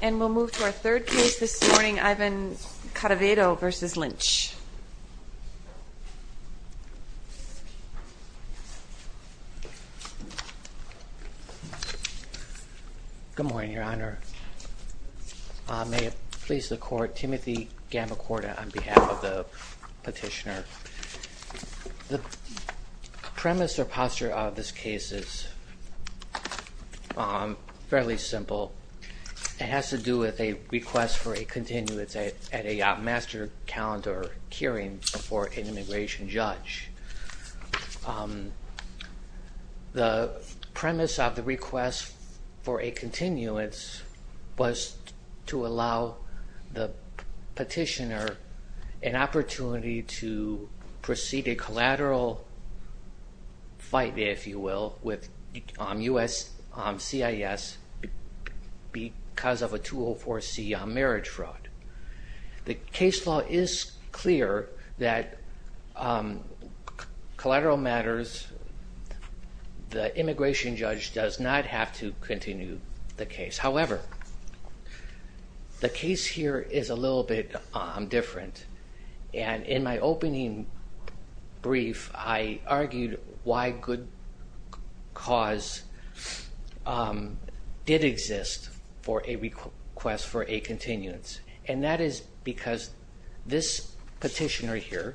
And we'll move to our third case this morning, Ivan Cadavedo v. Lynch. Good morning, Your Honor. May it please the Court, Timothy Gamacorda on behalf of the petitioner. The premise or posture of this case is fairly simple. It has to do with a request for a continuance at a master calendar hearing before an immigration judge. The premise of the request for a continuance was to allow the petitioner an opportunity to proceed a collateral fight, if you will, with U.S.CIS because of a 204C marriage fraud. The case law is clear that collateral matters, the immigration judge does not have to continue the case. And that is because this petitioner here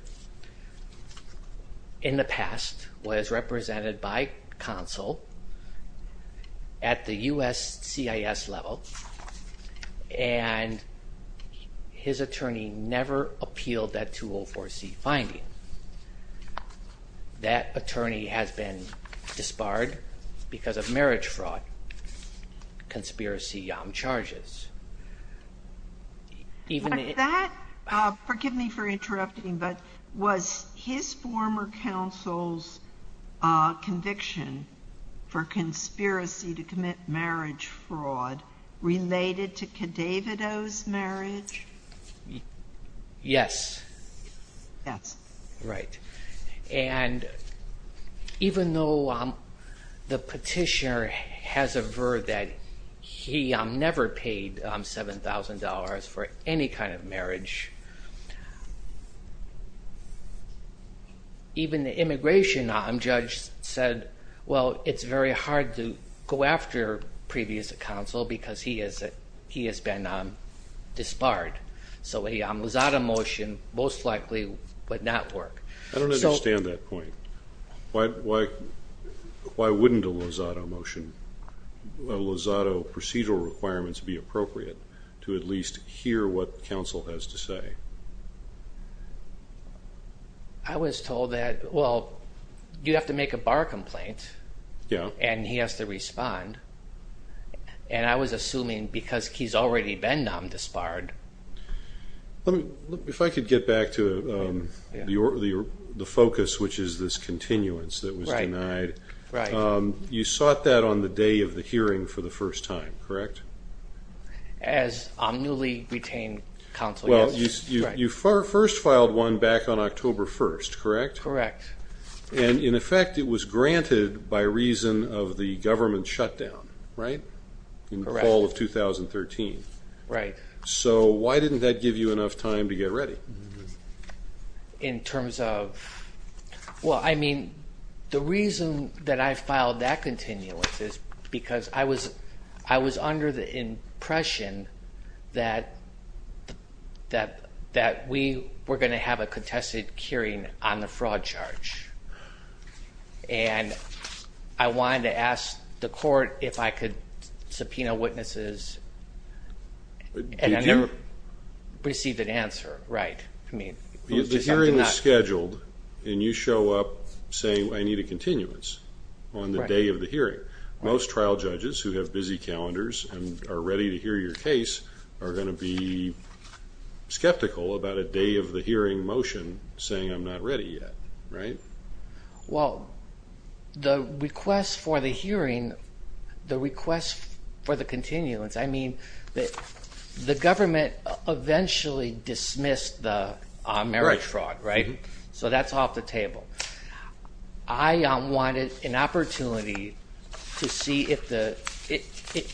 in the past was represented by counsel at the U.S.CIS level and his attorney never appealed that 204C finding. That attorney has been disbarred because of marriage fraud conspiracy charges. That, forgive me for interrupting, but was his former counsel's conviction for conspiracy to commit marriage fraud related to Cadavedo's marriage? Yes. That's right. And even though the petitioner has averred that he never paid $7,000 for any kind of marriage, even the immigration judge said, well, it's very hard to go after previous counsel because he has been disbarred. So a Lozado motion most likely would not work. I don't understand that point. Why wouldn't a Lozado motion, Lozado procedural requirements be appropriate to at least hear what counsel has to say? I was told that, well, you have to make a bar complaint. Yeah. And he has to respond. And I was assuming because he's already been non-disbarred. If I could get back to the focus, which is this continuance that was denied. Right. You sought that on the day of the hearing for the first time, correct? As omnily retained counsel, yes. Well, you first filed one back on October 1st, correct? Correct. And, in effect, it was granted by reason of the government shutdown, right? Correct. In the fall of 2013. Right. So why didn't that give you enough time to get ready? In terms of, well, I mean, the reason that I filed that continuance is because I was under the impression that we were going to have a contested hearing on the fraud charge. And I wanted to ask the court if I could subpoena witnesses and I never received an answer. Right. The hearing is scheduled and you show up saying I need a continuance on the day of the hearing. Most trial judges who have busy calendars and are ready to hear your case are going to be skeptical about a day of the hearing motion saying I'm not ready yet. Right. Well, the request for the hearing, the request for the continuance, I mean, the government eventually dismissed the marriage fraud, right? So that's off the table. I wanted an opportunity to see if the court could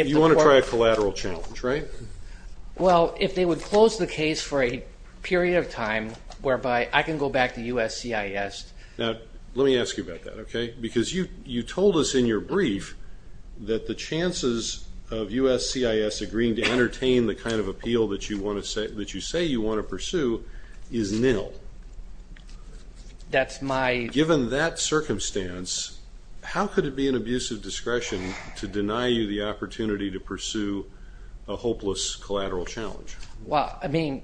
help. You want to try a collateral challenge, right? Well, if they would close the case for a period of time whereby I can go back to USCIS. Now, let me ask you about that, okay? Because you told us in your brief that the chances of USCIS agreeing to entertain the kind of appeal that you say you want to pursue is nil. That's my – Well, I mean,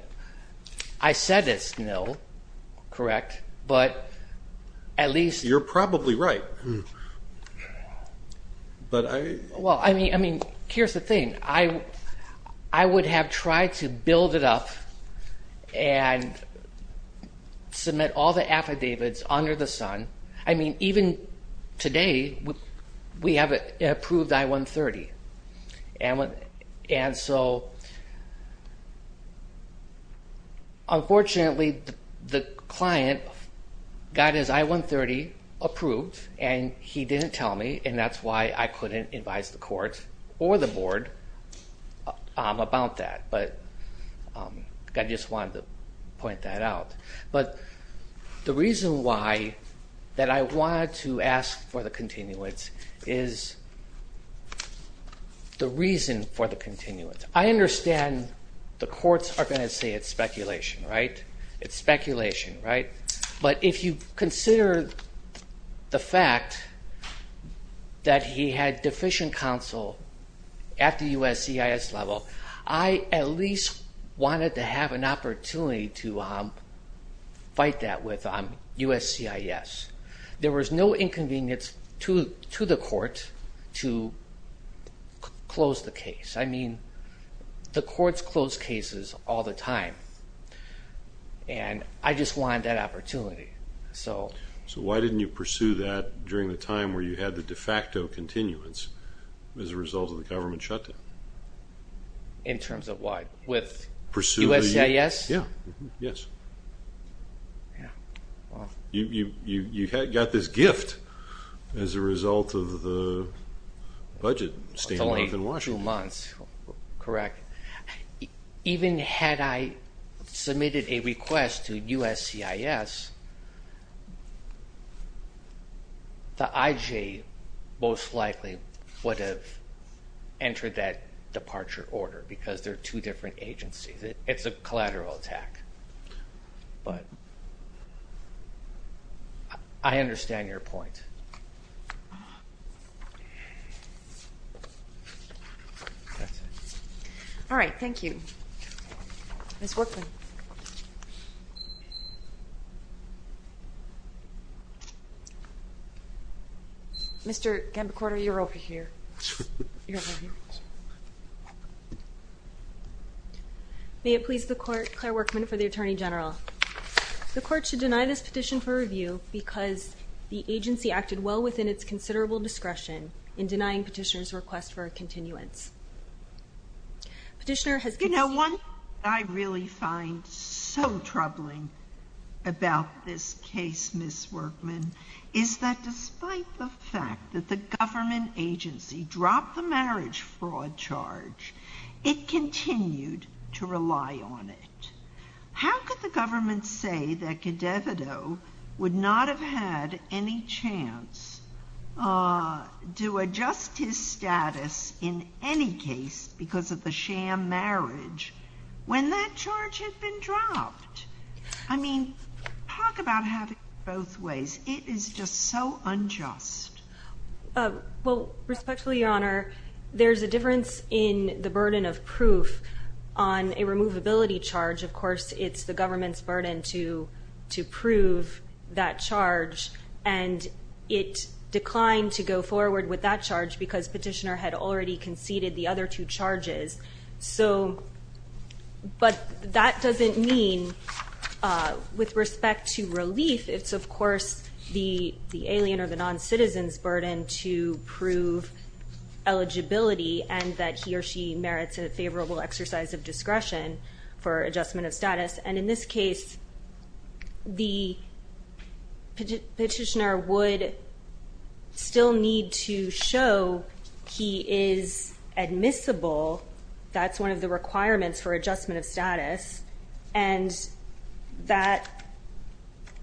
I said it's nil, correct, but at least – You're probably right, but I – Well, I mean, here's the thing. I would have tried to build it up and submit all the affidavits under the sun. I mean, even today, we have an approved I-130. And so, unfortunately, the client got his I-130 approved and he didn't tell me, and that's why I couldn't advise the court or the board about that. But I just wanted to point that out. But the reason why that I wanted to ask for the continuance is the reason for the continuance. I understand the courts are going to say it's speculation, right? It's speculation, right? But if you consider the fact that he had deficient counsel at the USCIS level, I at least wanted to have an opportunity to fight that with USCIS. There was no inconvenience to the court to close the case. I mean, the courts close cases all the time. And I just wanted that opportunity. So why didn't you pursue that during the time where you had the de facto continuance as a result of the government shutdown? In terms of what? With USCIS? Yeah, yes. Yeah. You got this gift as a result of the budget staying in Washington. Correct. Even had I submitted a request to USCIS, the IJ most likely would have entered that departure order because they're two different agencies. It's a collateral attack. But I understand your point. That's it. All right. Thank you. Ms. Workman. Mr. Gambacorda, you're over here. You're over here. May it please the court. Claire Workman for the Attorney General. The court should deny this petition for review because the agency acted well within its considerable discretion in denying petitioner's request for a continuance. Petitioner has... You know, one thing I really find so troubling about this case, Ms. Workman, is that despite the fact that the government agency dropped the marriage fraud charge, it continued to rely on it. How could the government say that Cadevito would not have had any chance to adjust his status in any case because of the sham marriage when that charge had been dropped? I mean, talk about having it both ways. It is just so unjust. Well, respectfully, Your Honor, there's a difference in the burden of proof on a removability charge. Of course, it's the government's burden to prove that charge. And it declined to go forward with that charge because petitioner had already conceded the other two charges. But that doesn't mean, with respect to relief, it's, of course, the alien or the non-citizen's burden to prove eligibility and that he or she merits a favorable exercise of discretion for adjustment of status. And in this case, the petitioner would still need to show he is admissible. That's one of the requirements for adjustment of status. And that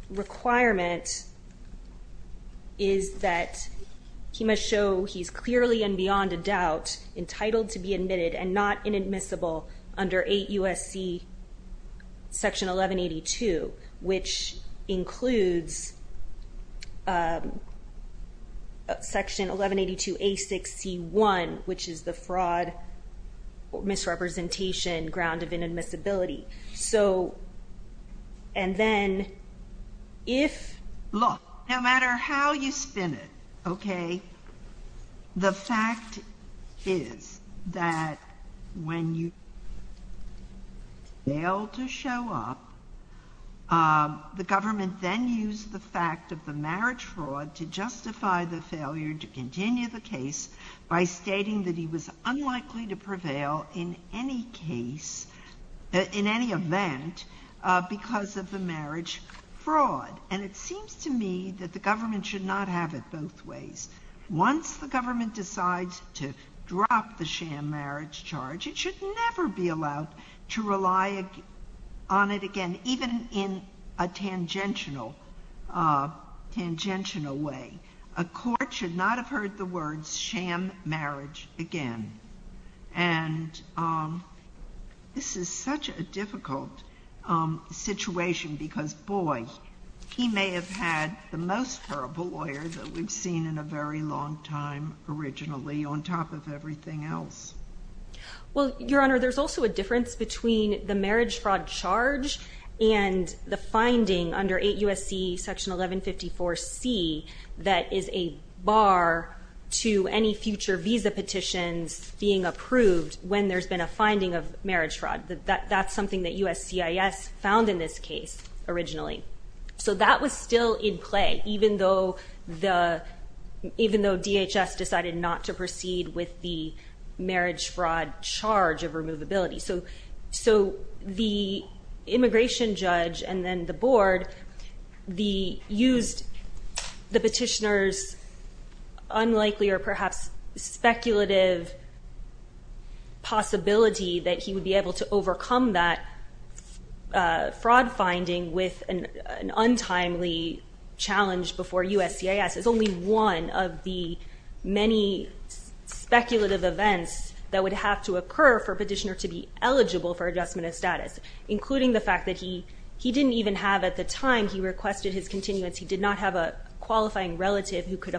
requirement is that he must show he's clearly and beyond a doubt entitled to be admitted and not inadmissible under 8 U.S.C. Section 1182, which includes Section 1182A6C1, which is the fraud misrepresentation ground of inadmissibility. So, and then, if... Look, no matter how you spin it, okay, the fact is that when you fail to show up, the government then used the fact of the marriage fraud to justify the failure to continue the case by stating that he was unlikely to prevail in any case, in any event, because of the marriage fraud. And it seems to me that the government should not have it both ways. Once the government decides to drop the sham marriage charge, it should never be allowed to rely on it again, even in a tangential way. A court should not have heard the words sham marriage again. And this is such a difficult situation because, boy, he may have had the most horrible lawyer that we've seen in a very long time, originally, on top of everything else. Well, Your Honor, there's also a difference between the marriage fraud charge and the finding under 8 U.S.C. Section 1154C that is a bar to any future visa petitions being approved when there's been a finding of marriage fraud. That's something that USCIS found in this case, originally. So that was still in play, even though DHS decided not to proceed with the marriage fraud charge of removability. So the immigration judge and then the board used the petitioner's unlikely or perhaps speculative possibility that he would be able to overcome that fraud finding with an untimely challenge before USCIS. It's only one of the many speculative events that would have to occur for a petitioner to be eligible for adjustment of status, including the fact that he didn't even have at the time he requested his continuance. He did not have a qualifying relative who could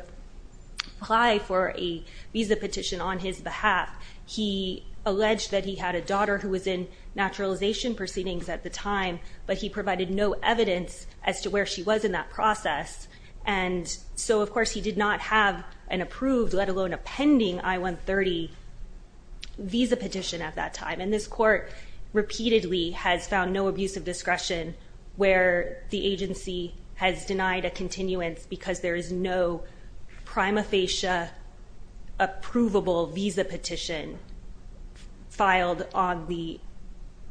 apply for a visa petition on his behalf. He alleged that he had a daughter who was in naturalization proceedings at the time, but he provided no evidence as to where she was in that process. And so, of course, he did not have an approved, let alone a pending I-130 visa petition at that time. And this court repeatedly has found no abuse of discretion where the agency has denied a continuance because there is no prima facie approvable visa petition filed on the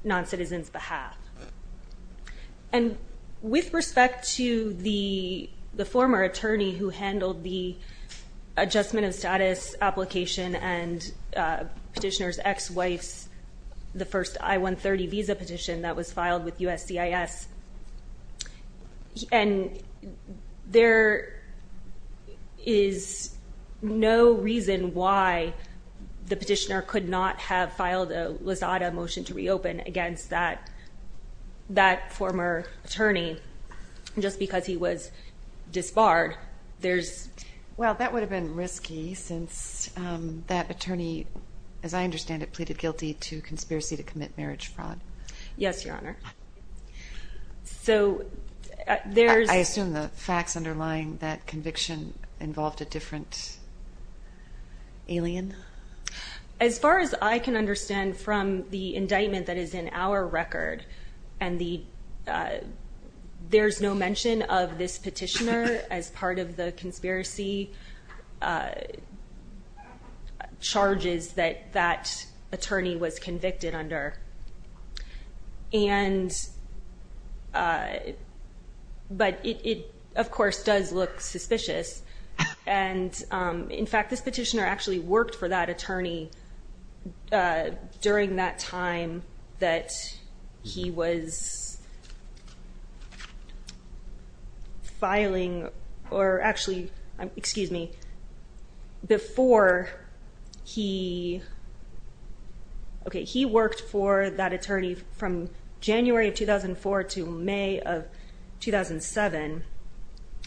noncitizen's behalf. And with respect to the former attorney who handled the adjustment of status application and petitioner's ex-wife's, the first I-130 visa petition that was filed with USCIS, and there is no reason why the petitioner could not have filed a lasada motion to reopen against that former attorney just because he was disbarred. Well, that would have been risky since that attorney, as I understand it, pleaded guilty to conspiracy to commit marriage fraud. Yes, Your Honor. I assume the facts underlying that conviction involved a different alien? As far as I can understand from the indictment that is in our record, and there's no mention of this petitioner as part of the conspiracy charges that that attorney was convicted under. And but it, of course, does look suspicious. And in fact, this petitioner actually worked for that attorney during that time that he was filing or actually, excuse me, before he, okay, he worked for that attorney from January of 2004 to May of 2007.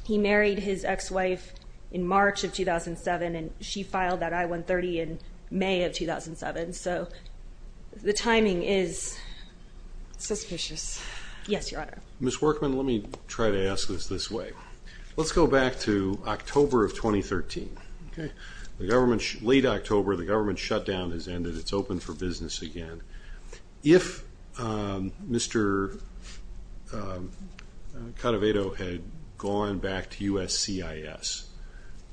He married his ex-wife in March of 2007, and she filed that I-130 in May of 2007. So the timing is suspicious. Yes, Your Honor. Ms. Workman, let me try to ask this this way. Let's go back to October of 2013, okay? The government, late October, the government shutdown has ended. It's open for business again. If Mr. Cadavedo had gone back to USCIS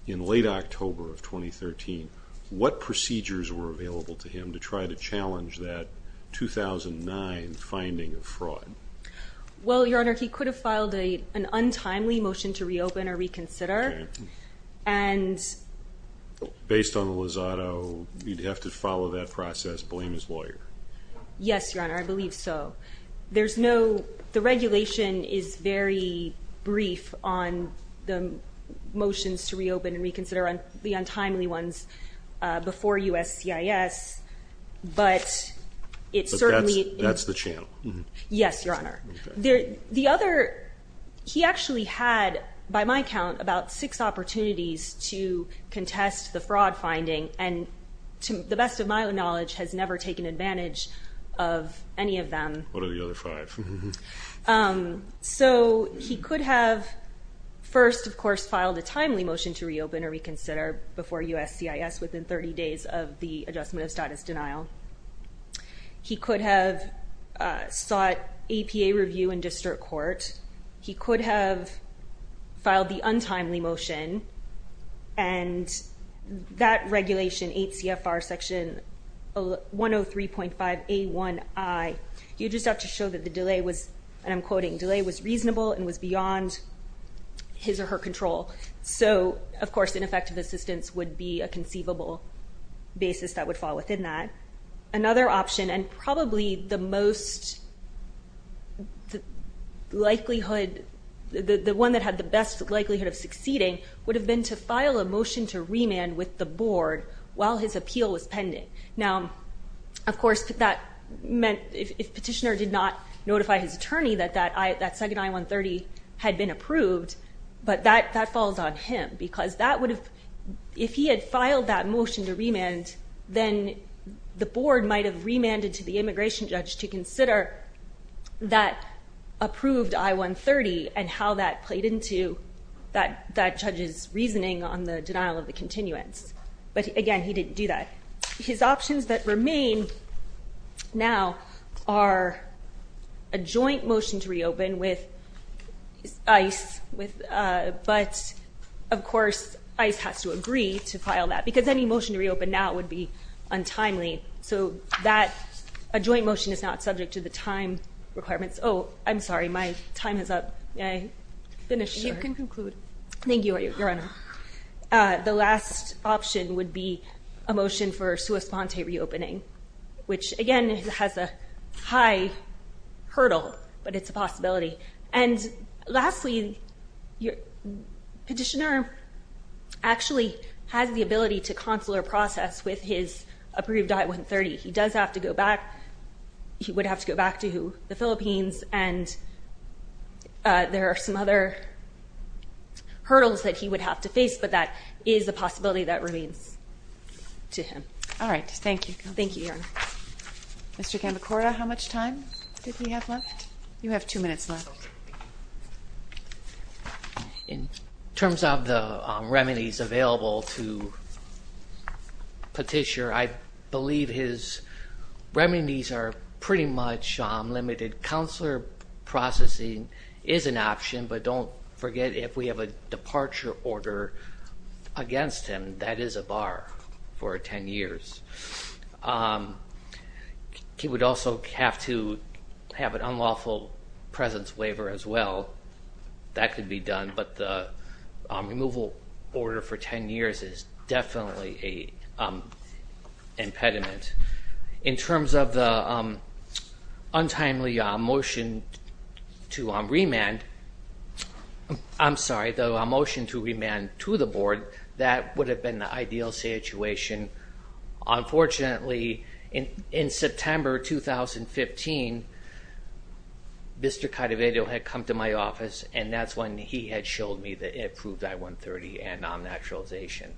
in late October of 2013, what procedures were available to him to try to challenge that 2009 finding of fraud? Well, Your Honor, he could have filed an untimely motion to reopen or reconsider. And based on Lozado, you'd have to follow that process, blame his lawyer. Yes, Your Honor, I believe so. There's no the regulation is very brief on the motions to reopen and reconsider on the untimely ones before USCIS, but it's certainly. That's the channel. Yes, Your Honor. The other, he actually had, by my count, about six opportunities to contest the fraud finding, and to the best of my knowledge, has never taken advantage of any of them. What are the other five? So he could have first, of course, filed a timely motion to reopen or reconsider before USCIS within 30 days of the adjustment of status denial. He could have sought APA review in district court. He could have filed the untimely motion. And that regulation, 8 CFR section 103.5 A1I, you just have to show that the delay was, and I'm quoting, delay was reasonable and was beyond his or her control. So, of course, ineffective assistance would be a conceivable basis that would fall within that. Another option, and probably the most likelihood, the one that had the best likelihood of succeeding, would have been to file a motion to remand with the board while his appeal was pending. Now, of course, that meant if petitioner did not notify his attorney that that second I-130 had been approved, but that falls on him. Because that would have, if he had filed that motion to remand, then the board might have remanded to the immigration judge to consider that approved I-130 and how that played into that judge's reasoning on the denial of the continuance. But, again, he didn't do that. His options that remain now are a joint motion to reopen with ICE, but, of course, ICE has to agree to file that. Because any motion to reopen now would be untimely. So that, a joint motion is not subject to the time requirements. Oh, I'm sorry. My time is up. May I finish? You can conclude. Thank you, Your Honor. The last option would be a motion for sua sponte reopening, which, again, has a high hurdle, but it's a possibility. And, lastly, petitioner actually has the ability to consular process with his approved I-130. He does have to go back. He would have to go back to the Philippines, and there are some other hurdles that he would have to face, but that is a possibility that remains to him. All right. Thank you. Thank you, Your Honor. Mr. Gambacora, how much time did we have left? You have two minutes left. In terms of the remedies available to petitioner, I believe his remedies are pretty much limited. Consular processing is an option, but don't forget if we have a departure order against him, that is a bar for 10 years. He would also have to have an unlawful presence waiver as well. That could be done, but the removal order for 10 years is definitely an impediment. In terms of the untimely motion to remand, I'm sorry, the motion to remand to the board, that would have been the ideal situation. Unfortunately, in September 2015, Mr. Cadavedro had come to my office, and that's when he had showed me the approved I-130 and non-naturalization.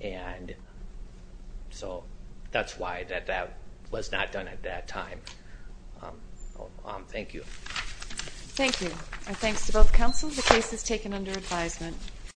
And so that's why that was not done at that time. Thank you. Thank you. Our thanks to both counsel. The case is taken under advisement.